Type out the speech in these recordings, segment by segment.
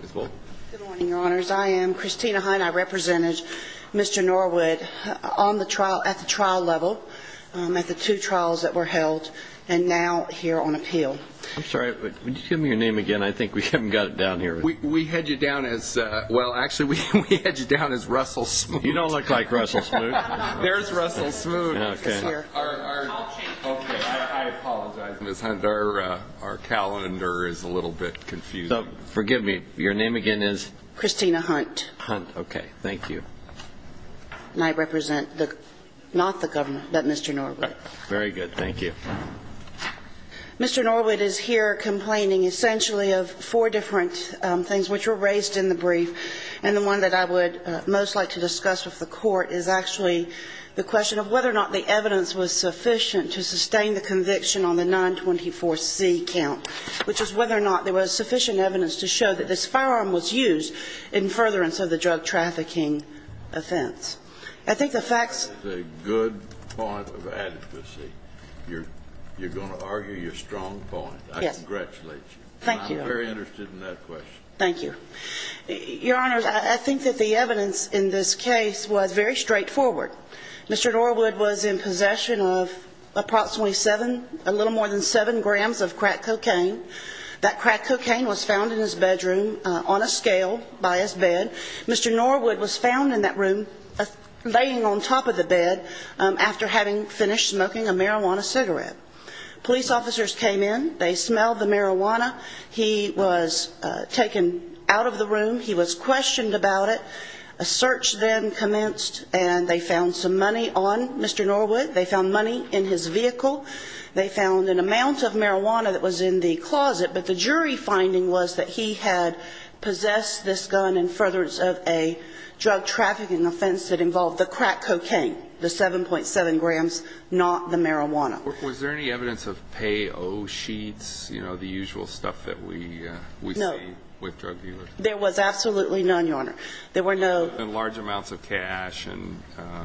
Good morning, your honors. I am Christina Hunt. I represented Mr. Norwood at the trial level, at the two trials that were held, and now here on appeal. I'm sorry, would you give me your name again? I think we haven't got it down here. We head you down as, well, actually, we head you down as Russell Smoot. You don't look like Russell Smoot. There's Russell Smoot. I apologize, Ms. Hunt. Our calendar is a little bit confused. Forgive me. Your name again is? Christina Hunt. Hunt. Okay. Thank you. And I represent not the governor, but Mr. Norwood. Very good. Thank you. Mr. Norwood is here complaining, essentially, of four different things which were raised in the brief. And the one that I would most like to discuss with the court is actually the question of whether or not the evidence was sufficient to sustain the conviction on the 924C count, which is whether or not there was sufficient evidence to show that this firearm was used in furtherance of the drug trafficking offense. I think the facts ---- That is a good point of adequacy. You're going to argue your strong point. Yes. I congratulate you. Thank you. And I'm very interested in that question. Thank you. Your Honors, I think that the evidence in this case was very straightforward. Mr. Norwood was in possession of approximately seven, a little more than seven grams of crack cocaine. That crack cocaine was found in his bedroom on a scale by his bed. Mr. Norwood was found in that room laying on top of the bed after having finished smoking a marijuana cigarette. Police officers came in. They smelled the marijuana. He was taken out of the room. He was questioned about it. A search then commenced, and they found some money on Mr. Norwood. They found money in his vehicle. They found an amount of marijuana that was in the closet. But the jury finding was that he had possessed this gun in furtherance of a drug trafficking offense that involved the crack cocaine, the 7.7 grams, not the marijuana. Was there any evidence of payo sheets, you know, the usual stuff that we see with drug dealers? No. There was absolutely none, Your Honor. There were no ---- And large amounts of cash and ----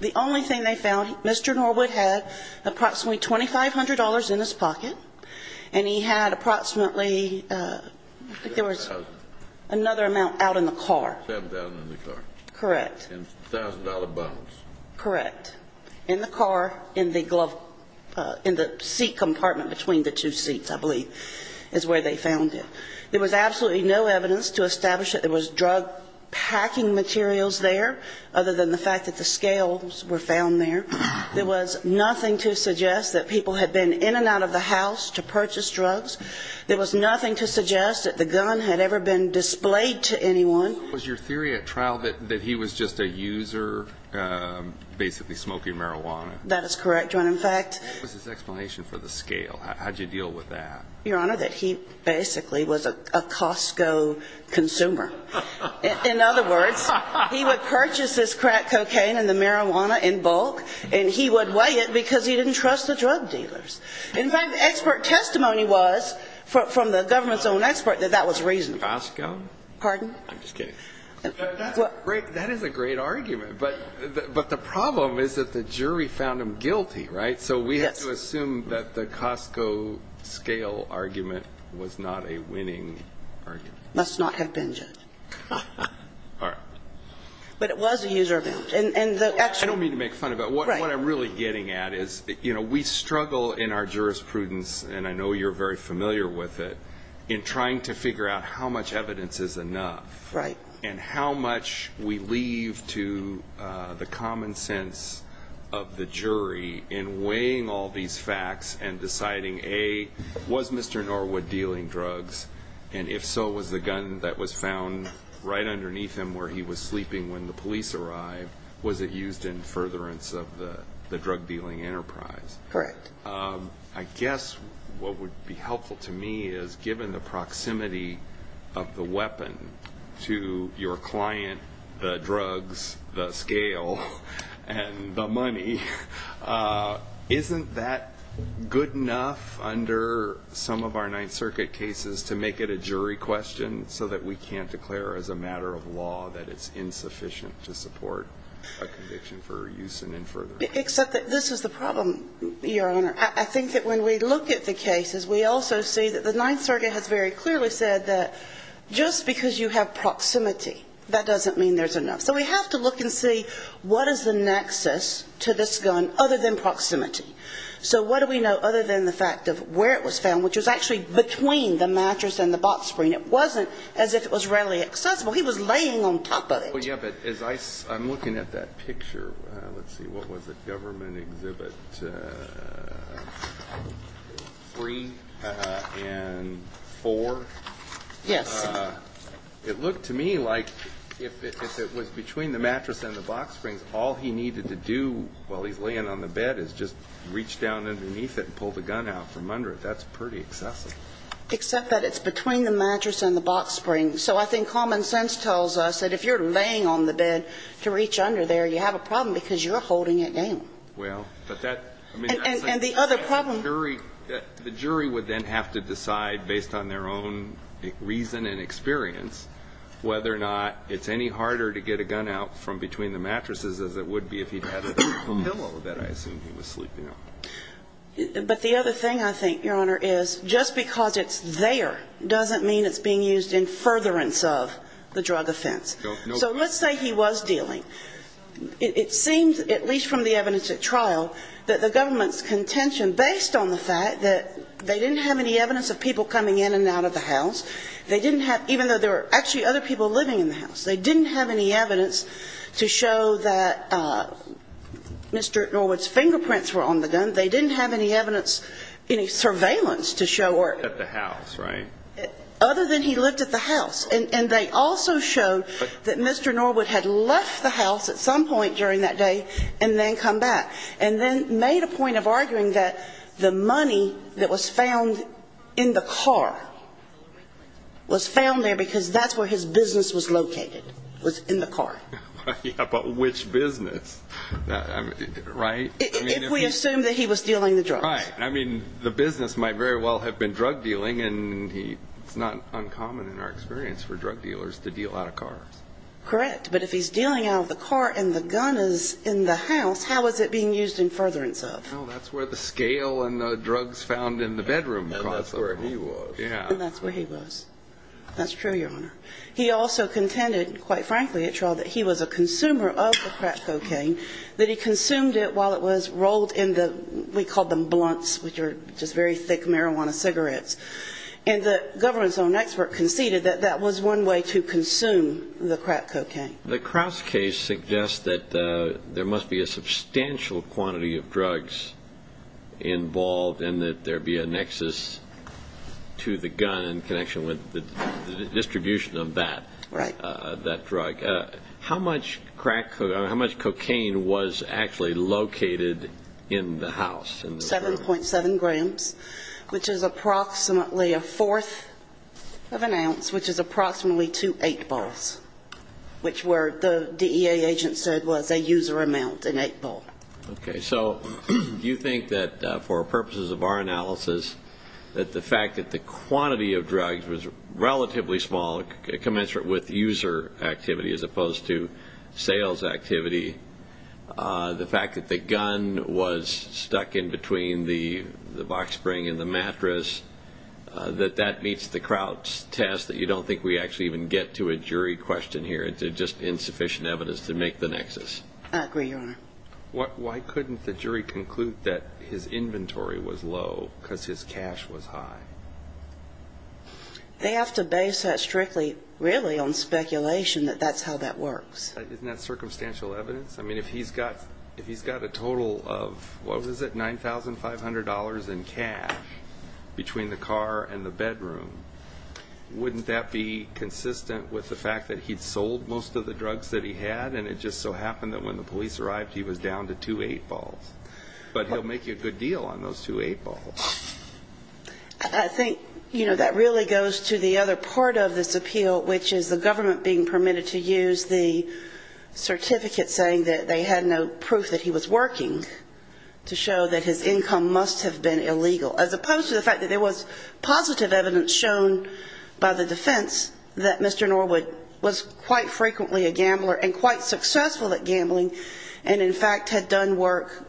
The only thing they found, Mr. Norwood had approximately $2,500 in his pocket, and he had approximately, I think there was ---- $7,000. Another amount out in the car. $7,000 in the car. Correct. And $1,000 bonds. Correct. In the car, in the glove ---- in the seat compartment between the two seats, I believe, is where they found it. There was absolutely no evidence to establish that there was drug packing materials there other than the fact that the scales were found there. There was nothing to suggest that people had been in and out of the house to purchase drugs. There was nothing to suggest that the gun had ever been displayed to anyone. Was your theory at trial that he was just a user basically smoking marijuana? That is correct, Your Honor. In fact ---- What was his explanation for the scale? How did you deal with that? Your Honor, that he basically was a Costco consumer. In other words, he would purchase this crack cocaine and the marijuana in bulk, and he would weigh it because he didn't trust the drug dealers. In fact, expert testimony was from the government's own expert that that was reasonable. Costco? Pardon? I'm just kidding. That is a great argument, but the problem is that the jury found him guilty, right? Yes. Let's assume that the Costco scale argument was not a winning argument. It must not have been, Judge. All right. But it was a user event. And the actual ---- I don't mean to make fun of it. Right. What I'm really getting at is, you know, we struggle in our jurisprudence, and I know you're very familiar with it, in trying to figure out how much evidence is enough. Right. And how much we leave to the common sense of the jury in weighing all these facts and deciding, A, was Mr. Norwood dealing drugs? And if so, was the gun that was found right underneath him where he was sleeping when the police arrived, was it used in furtherance of the drug-dealing enterprise? Correct. I guess what would be helpful to me is, given the proximity of the weapon to your client, the drugs, the scale, and the money, isn't that good enough under some of our Ninth Circuit cases to make it a jury question, so that we can't declare as a matter of law that it's insufficient to support a conviction for use in furtherance? Except that this is the problem, Your Honor. I think that when we look at the cases, we also see that the Ninth Circuit has very clearly said that just because you have proximity, that doesn't mean there's enough. So we have to look and see what is the nexus to this gun other than proximity. So what do we know other than the fact of where it was found, which was actually between the mattress and the box screen? It wasn't as if it was readily accessible. He was laying on top of it. Well, yeah, but as I'm looking at that picture, let's see, what was it, Government Exhibit 3 and 4? Yes. It looked to me like if it was between the mattress and the box springs, all he needed to do while he's laying on the bed is just reach down underneath it and pull the gun out from under it. That's pretty excessive. Except that it's between the mattress and the box springs. So I think common sense tells us that if you're laying on the bed to reach under there, you have a problem because you're holding it down. Well, but that – And the other problem – The jury would then have to decide, based on their own reason and experience, whether or not it's any harder to get a gun out from between the mattresses as it would be if he had a pillow that I assume he was sleeping on. But the other thing I think, Your Honor, is just because it's there doesn't mean it's being used in furtherance of the drug offense. So let's say he was dealing. It seems, at least from the evidence at trial, that the government's contention, based on the fact that they didn't have any evidence of people coming in and out of the house, they didn't have – even though there were actually other people living in the house. They didn't have any evidence to show that Mr. Norwood's fingerprints were on the gun. They didn't have any evidence, any surveillance to show – Other than he lived at the house, right? Other than he lived at the house. And they also showed that Mr. Norwood had left the house at some point during that day and then come back, and then made a point of arguing that the money that was found in the car was found there because that's where his business was located, was in the car. Yeah, but which business? Right? If we assume that he was dealing the drugs. Right. I mean, the business might very well have been drug dealing, and it's not uncommon in our experience for drug dealers to deal out of cars. Correct. But if he's dealing out of the car and the gun is in the house, how is it being used in furtherance of? Well, that's where the scale and the drugs found in the bedroom caused the problem. And that's where he was. Yeah. And that's where he was. That's true, Your Honor. He also contended, quite frankly at trial, that he was a consumer of the crack cocaine, that he consumed it while it was rolled in the, we called them blunts, which are just very thick marijuana cigarettes. And the government's own expert conceded that that was one way to consume the crack cocaine. The Krause case suggests that there must be a substantial quantity of drugs involved and that there be a nexus to the gun in connection with the distribution of that drug. Right. How much crack cocaine, how much cocaine was actually located in the house? 7.7 grams, which is approximately a fourth of an ounce, which is approximately two 8-balls, which the DEA agent said was a user amount, an 8-ball. Okay. So do you think that for purposes of our analysis, that the fact that the quantity of drugs was relatively small, commensurate with user activity as opposed to sales activity, the fact that the gun was stuck in between the box spring and the mattress, that that meets the Krause test that you don't think we actually even get to a jury question here. It's just insufficient evidence to make the nexus. I agree, Your Honor. Why couldn't the jury conclude that his inventory was low because his cash was high? They have to base that strictly, really, on speculation that that's how that works. Isn't that circumstantial evidence? I mean, if he's got a total of, what was it, $9,500 in cash between the car and the bedroom, wouldn't that be consistent with the fact that he'd sold most of the drugs that he had and it just so happened that when the police arrived, he was down to two 8-balls? But he'll make you a good deal on those two 8-balls. I think, you know, that really goes to the other part of this appeal, which is the government being permitted to use the certificate saying that they had no proof that he was working to show that his income must have been illegal, as opposed to the fact that there was positive evidence shown by the defense that Mr. Norwood was quite frequently a gambler and quite successful at gambling and, in fact, had done work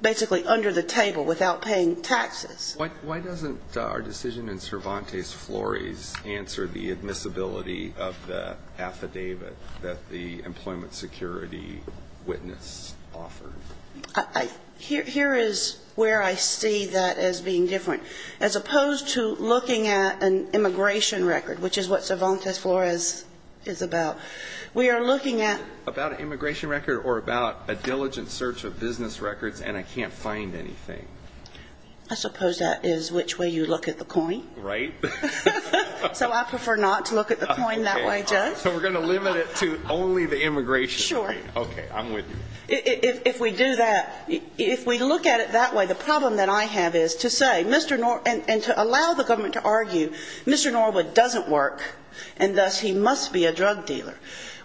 basically under the table without paying taxes. Why doesn't our decision in Cervantes Flores answer the admissibility of the affidavit that the employment security witness offered? Here is where I see that as being different. As opposed to looking at an immigration record, which is what Cervantes Flores is about, about an immigration record or about a diligent search of business records and I can't find anything? I suppose that is which way you look at the coin. Right. So I prefer not to look at the coin that way, Judge. So we're going to limit it to only the immigration. Sure. Okay. I'm with you. If we do that, if we look at it that way, the problem that I have is to say Mr. Norwood and to allow the government to argue Mr. Norwood doesn't work and thus he must be a drug dealer,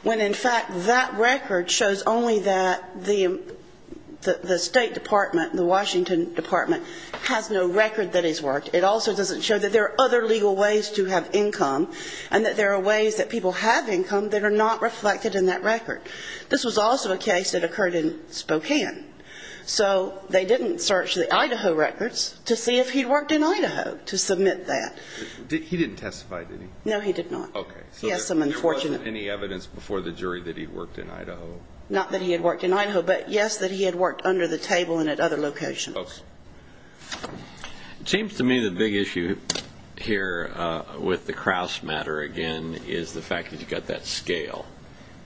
when, in fact, that record shows only that the State Department, the Washington Department, has no record that he's worked. It also doesn't show that there are other legal ways to have income and that there are ways that people have income that are not reflected in that record. This was also a case that occurred in Spokane. So they didn't search the Idaho records to see if he'd worked in Idaho to submit that. He didn't testify, did he? No, he did not. Okay. Yes, I'm unfortunate. So there wasn't any evidence before the jury that he worked in Idaho? Not that he had worked in Idaho, but, yes, that he had worked under the table and at other locations. Okay. It seems to me the big issue here with the Crouse matter, again, is the fact that you've got that scale.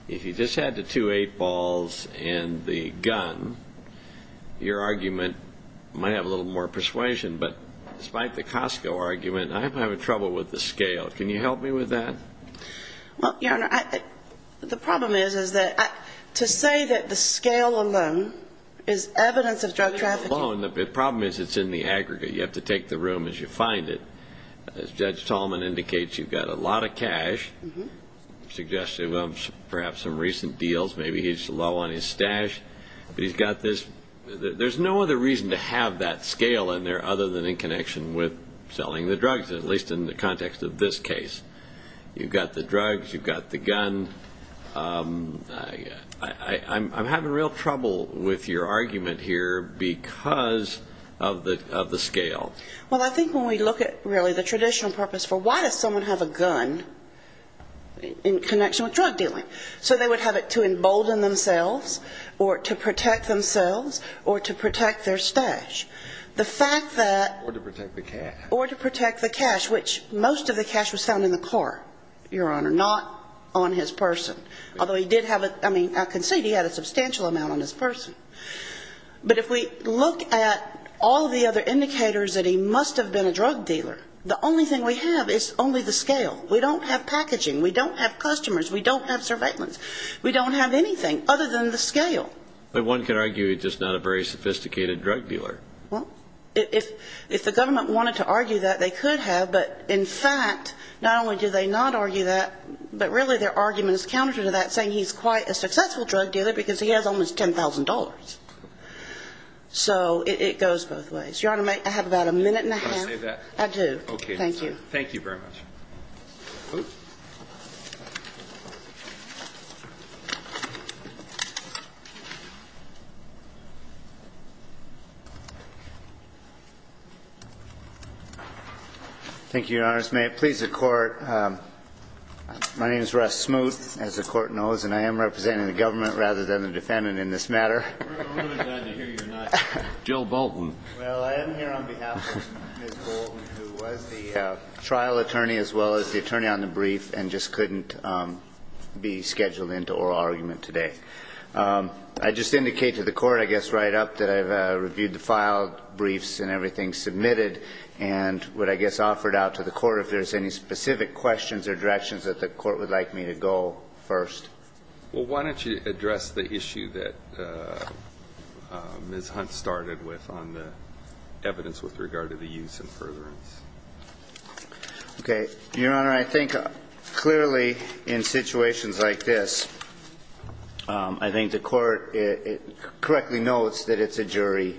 If you just add the two eight balls and the gun, your argument might have a little more persuasion, but despite the Costco argument, I'm having trouble with the scale. Can you help me with that? Well, Your Honor, the problem is that to say that the scale alone is evidence of drug trafficking. The problem is it's in the aggregate. You have to take the room as you find it. As Judge Tallman indicates, you've got a lot of cash, suggestive of perhaps some recent deals. Maybe he's low on his stash. But he's got this. There's no other reason to have that scale in there other than in connection with selling the drugs, at least in the context of this case. You've got the drugs. You've got the gun. I'm having real trouble with your argument here because of the scale. Well, I think when we look at really the traditional purpose for why does someone have a gun in connection with drug dealing? So they would have it to embolden themselves or to protect themselves or to protect their stash. The fact that or to protect the cash, which most of the cash was found in the car, Your Honor, not on his person. Although he did have a ‑‑ I mean, I concede he had a substantial amount on his person. But if we look at all the other indicators that he must have been a drug dealer, the only thing we have is only the scale. We don't have packaging. We don't have customers. We don't have surveillance. We don't have anything other than the scale. But one could argue he's just not a very sophisticated drug dealer. Well, if the government wanted to argue that, they could have. But in fact, not only do they not argue that, but really their argument is counter to that, saying he's quite a successful drug dealer because he has almost $10,000. So it goes both ways. Your Honor, I have about a minute and a half. Can I say that? I do. Okay. Thank you. Thank you very much. Thank you, Your Honors. May it please the Court. My name is Russ Smoot, as the Court knows. And I am representing the government rather than the defendant in this matter. We're really glad to hear you're not. Joe Bolton. Well, I am here on behalf of Ms. Bolton, who was the trial attorney as well as the attorney on the brief and just couldn't be scheduled into oral argument today. I'd just indicate to the Court, I guess right up, that I've reviewed the filed briefs and everything submitted and would, I guess, offer it out to the Court if there's any specific questions or directions that the Court would like me to go first. Well, why don't you address the issue that Ms. Hunt started with on the evidence with regard to the use and furtherance? Okay. Your Honor, I think clearly in situations like this, I think the Court correctly notes that it's a jury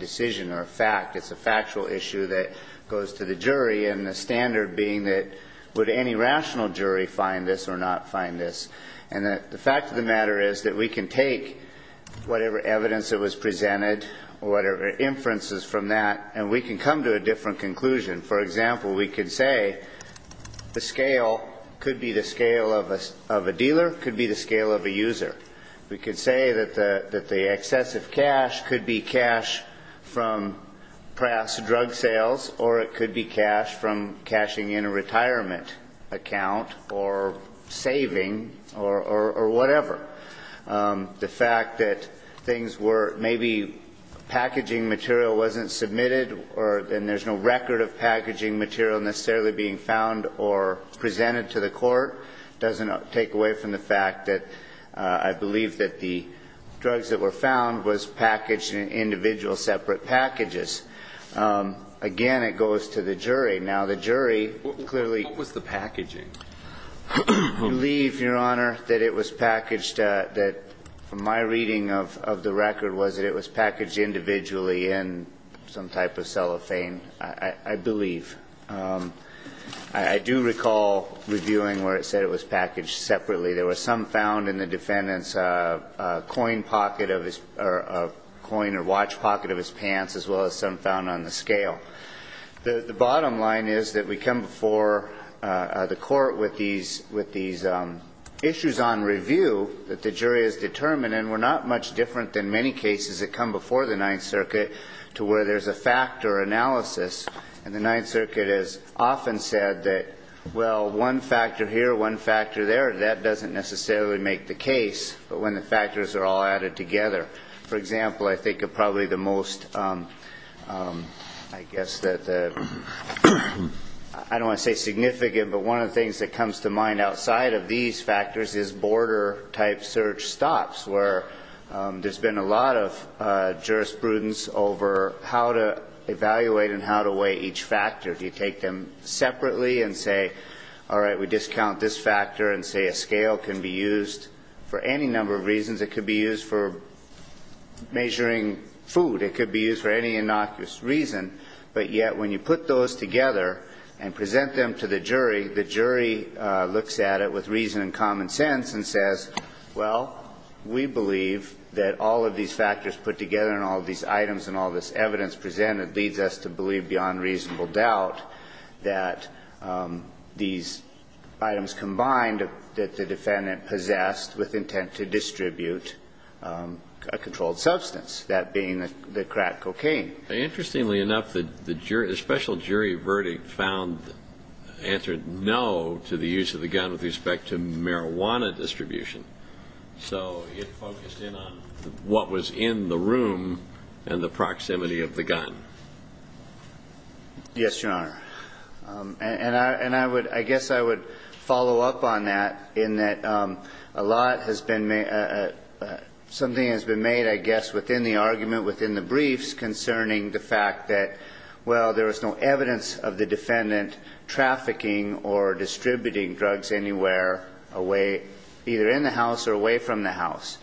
decision or a fact. It's a factual issue that goes to the jury, and the standard being that would any rational jury find this or not find this? And the fact of the matter is that we can take whatever evidence that was presented or whatever inferences from that, and we can come to a different conclusion. For example, we could say the scale could be the scale of a dealer, could be the scale of a user. We could say that the excessive cash could be cash from perhaps drug sales or it could be cash from cashing in a retirement account or saving or whatever. The fact that things were maybe packaging material wasn't submitted and there's no record of packaging material necessarily being found or presented to the Court doesn't take away from the fact that I believe that the drugs that were found was packaged in individual separate packages. Again, it goes to the jury. Now, the jury clearly ---- What was the packaging? I believe, Your Honor, that it was packaged that from my reading of the record was that it was packaged individually in some type of cellophane, I believe. I do recall reviewing where it said it was packaged separately. There were some found in the defendant's coin pocket of his or a coin or watch pocket of his pants as well as some found on the scale. The bottom line is that we come before the Court with these issues on review that the jury has determined, and we're not much different than many cases that come before the Ninth Circuit to where there's a fact or analysis. And the Ninth Circuit has often said that, well, one factor here, one factor there, that doesn't necessarily make the case, but when the factors are all added together. For example, I think probably the most, I guess that the ---- I don't want to say significant, but one of the things that comes to mind outside of these factors is border-type search stops where there's been a lot of jurisprudence over how to evaluate and how to weigh each factor. Do you take them separately and say, all right, we discount this factor and say a scale can be used for any number of reasons? It could be used for measuring food. It could be used for any innocuous reason. But yet when you put those together and present them to the jury, the jury looks at it with reason and common sense and says, well, we believe that all of these factors put together and all of these items and all this evidence presented leads us to believe beyond reasonable doubt that these items combined that the defendant possessed with intent to distribute a controlled substance, that being the crack cocaine. Interestingly enough, the special jury verdict found, answered no to the use of the gun with respect to marijuana distribution. So it focused in on what was in the room and the proximity of the gun. Yes, Your Honor. And I would ‑‑ I guess I would follow up on that in that a lot has been ‑‑ something has been made, I guess, within the argument, within the briefs, concerning the fact that, well, there was no evidence of the defendant trafficking or distributing drugs anywhere away either in the house or away from the house.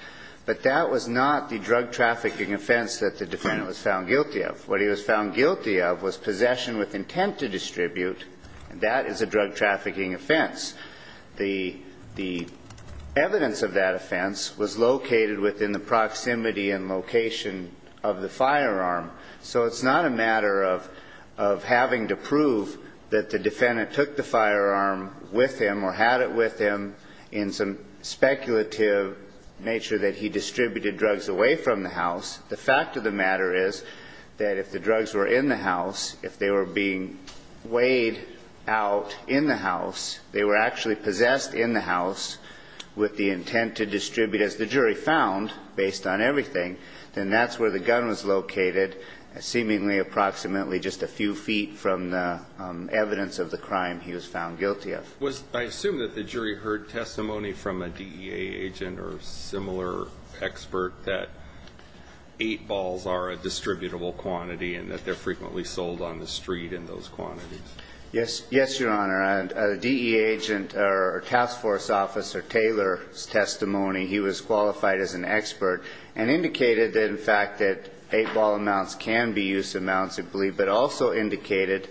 But that was not the drug trafficking offense that the defendant was found guilty of. What he was found guilty of was possession with intent to distribute, and that is a drug trafficking offense. The evidence of that offense was located within the proximity and location of the firearm. So it's not a matter of having to prove that the defendant took the firearm with him or had it with him in some speculative nature that he distributed drugs away from the house. The fact of the matter is that if the drugs were in the house, if they were being weighed out in the house, they were actually possessed in the house with the intent to distribute, as the jury found, based on everything, then that's where the gun was located seemingly approximately just a few feet from the evidence of the crime he was found guilty of. I assume that the jury heard testimony from a DEA agent or a similar expert that eight balls are a distributable quantity and that they're frequently sold on the street in those quantities. Yes. Yes, Your Honor. A DEA agent or task force officer, Taylor's testimony, he was qualified as an expert and indicated, in fact, that eight ball amounts can be used amounts, I believe, but also indicated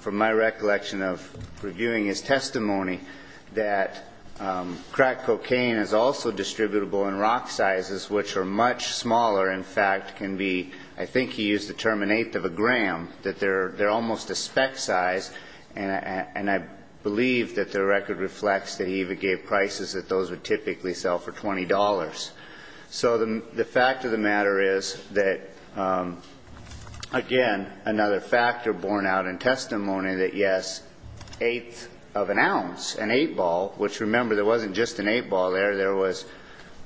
from my recollection of reviewing his testimony that crack cocaine is also distributable in rock sizes, which are much smaller, in fact, can be, I think he used the term an eighth of a gram, that they're almost a spec size, and I believe that the record reflects that he even gave prices that those would typically sell for $20. So the fact of the matter is that, again, another factor borne out in testimony that, yes, eighth of an ounce, an eight ball, which remember there wasn't just an eight ball there, there was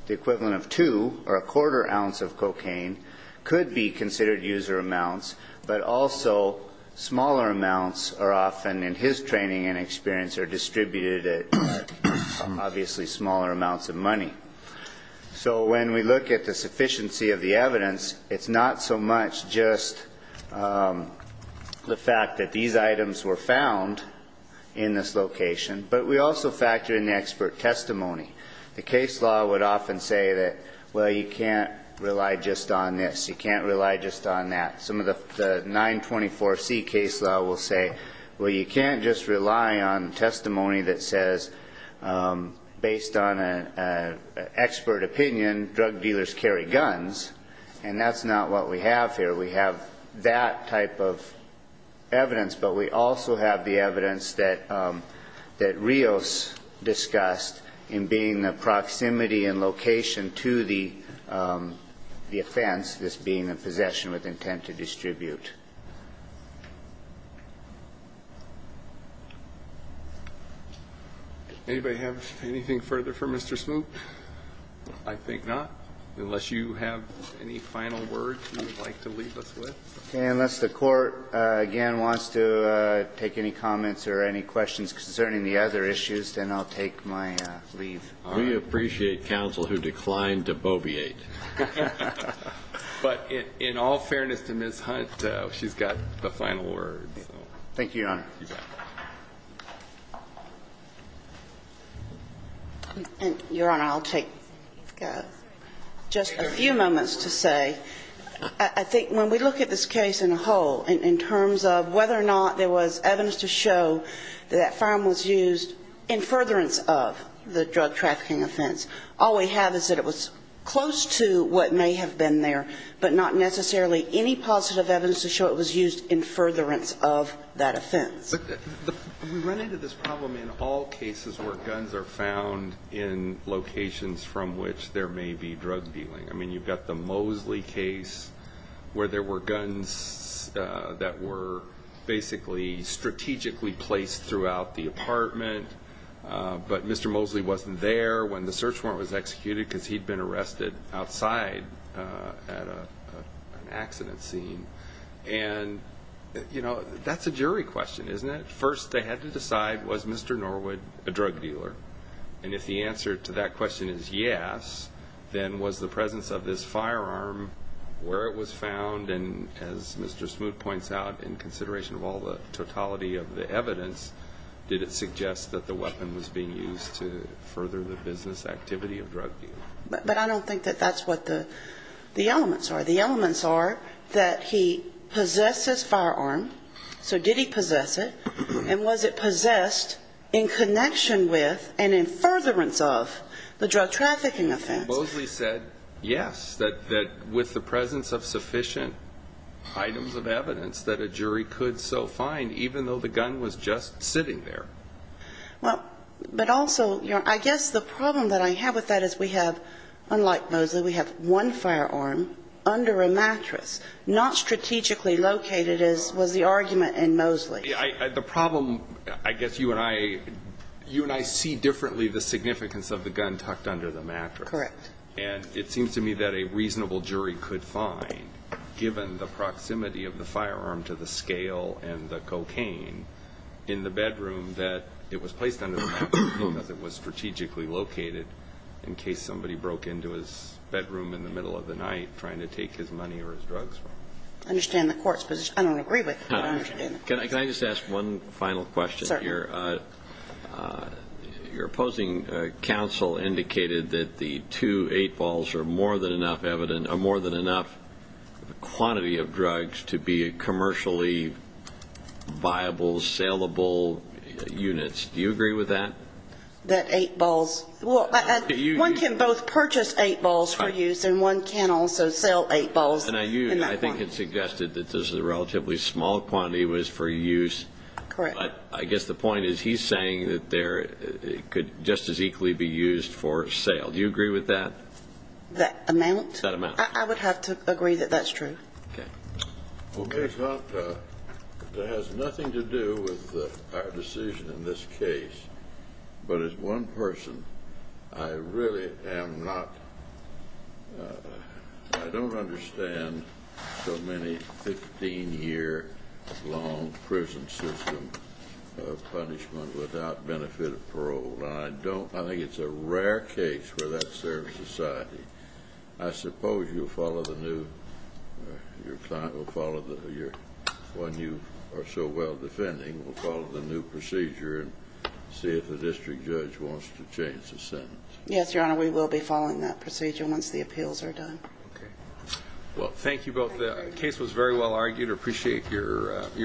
the equivalent of two or a quarter ounce of cocaine, could be considered user amounts, but also smaller amounts are often, in his training and experience, are distributed at obviously smaller amounts of money. So when we look at the sufficiency of the evidence, it's not so much just the fact that these items were found in this location, but we also factor in the expert testimony. The case law would often say that, well, you can't rely just on this, you can't rely just on that. Some of the 924C case law will say, well, you can't just rely on testimony that says, based on an expert opinion, drug dealers carry guns, and that's not what we have here. We have that type of evidence, but we also have the evidence that Rios discussed in being the proximity and location to the offense, this being a possession with intent to distribute. Anybody have anything further for Mr. Smoot? I think not, unless you have any final words you'd like to leave us with. Okay. Unless the Court, again, wants to take any comments or any questions concerning the other issues, then I'll take my leave. We appreciate counsel who declined to bobeate. But in all fairness to Ms. Hunt, she's got the final words. Thank you, Your Honor. Your Honor, I'll take just a few moments to say, I think when we look at this case in a whole, in terms of whether or not there was evidence to show that that firearm was used in furtherance of the drug trafficking offense, all we have is that it was close to what may have been there, but not necessarily any positive evidence to show it was used in furtherance of that offense. We run into this problem in all cases where guns are found in locations from which there may be drug dealing. I mean, you've got the Mosley case where there were guns that were basically strategically placed throughout the apartment, but Mr. Mosley wasn't there when the search warrant was executed because he'd been arrested outside at an accident scene. And, you know, that's a jury question, isn't it? First they had to decide, was Mr. Norwood a drug dealer? And if the answer to that question is yes, then was the presence of this firearm where it was found? And as Mr. Smoot points out, in consideration of all the totality of the evidence, did it suggest that the weapon was being used to further the business activity of drug dealing? But I don't think that that's what the elements are. The elements are that he possessed this firearm, so did he possess it? And was it possessed in connection with and in furtherance of the drug trafficking offense? Mosley said yes, that with the presence of sufficient items of evidence that a jury could so find, even though the gun was just sitting there. But also, I guess the problem that I have with that is we have, unlike Mosley, we have one firearm under a mattress, not strategically located, was the argument in Mosley. The problem, I guess you and I see differently the significance of the gun tucked under the mattress. Correct. And it seems to me that a reasonable jury could find, given the proximity of the firearm to the scale and the cocaine, in the bedroom that it was placed under the mattress because it was strategically located in case somebody broke into his bedroom in the middle of the night trying to take his money or his drugs from him. I understand the Court's position. I don't agree with it, but I understand it. Can I just ask one final question here? Certainly. Your opposing counsel indicated that the two 8-balls are more than enough evidence, are more than enough quantity of drugs to be commercially viable, saleable units. Do you agree with that? That 8-balls? Well, one can both purchase 8-balls for use and one can also sell 8-balls in that quantity. I think it suggested that this relatively small quantity was for use. Correct. But I guess the point is he's saying that they could just as equally be used for sale. Do you agree with that? That amount? That amount. I would have to agree that that's true. Okay. Okay. It has nothing to do with our decision in this case, but as one person, I really am not, I don't understand so many 15-year-long prison systems of punishment without benefit of parole. And I don't, I think it's a rare case where that serves society. I suppose you'll follow the new, your client will follow the, one you are so well defending will follow the new procedure and see if the district judge wants to change the sentence. Yes, Your Honor, we will be following that procedure once the appeals are done. Okay. Well, thank you both. The case was very well argued. I appreciate your honesty.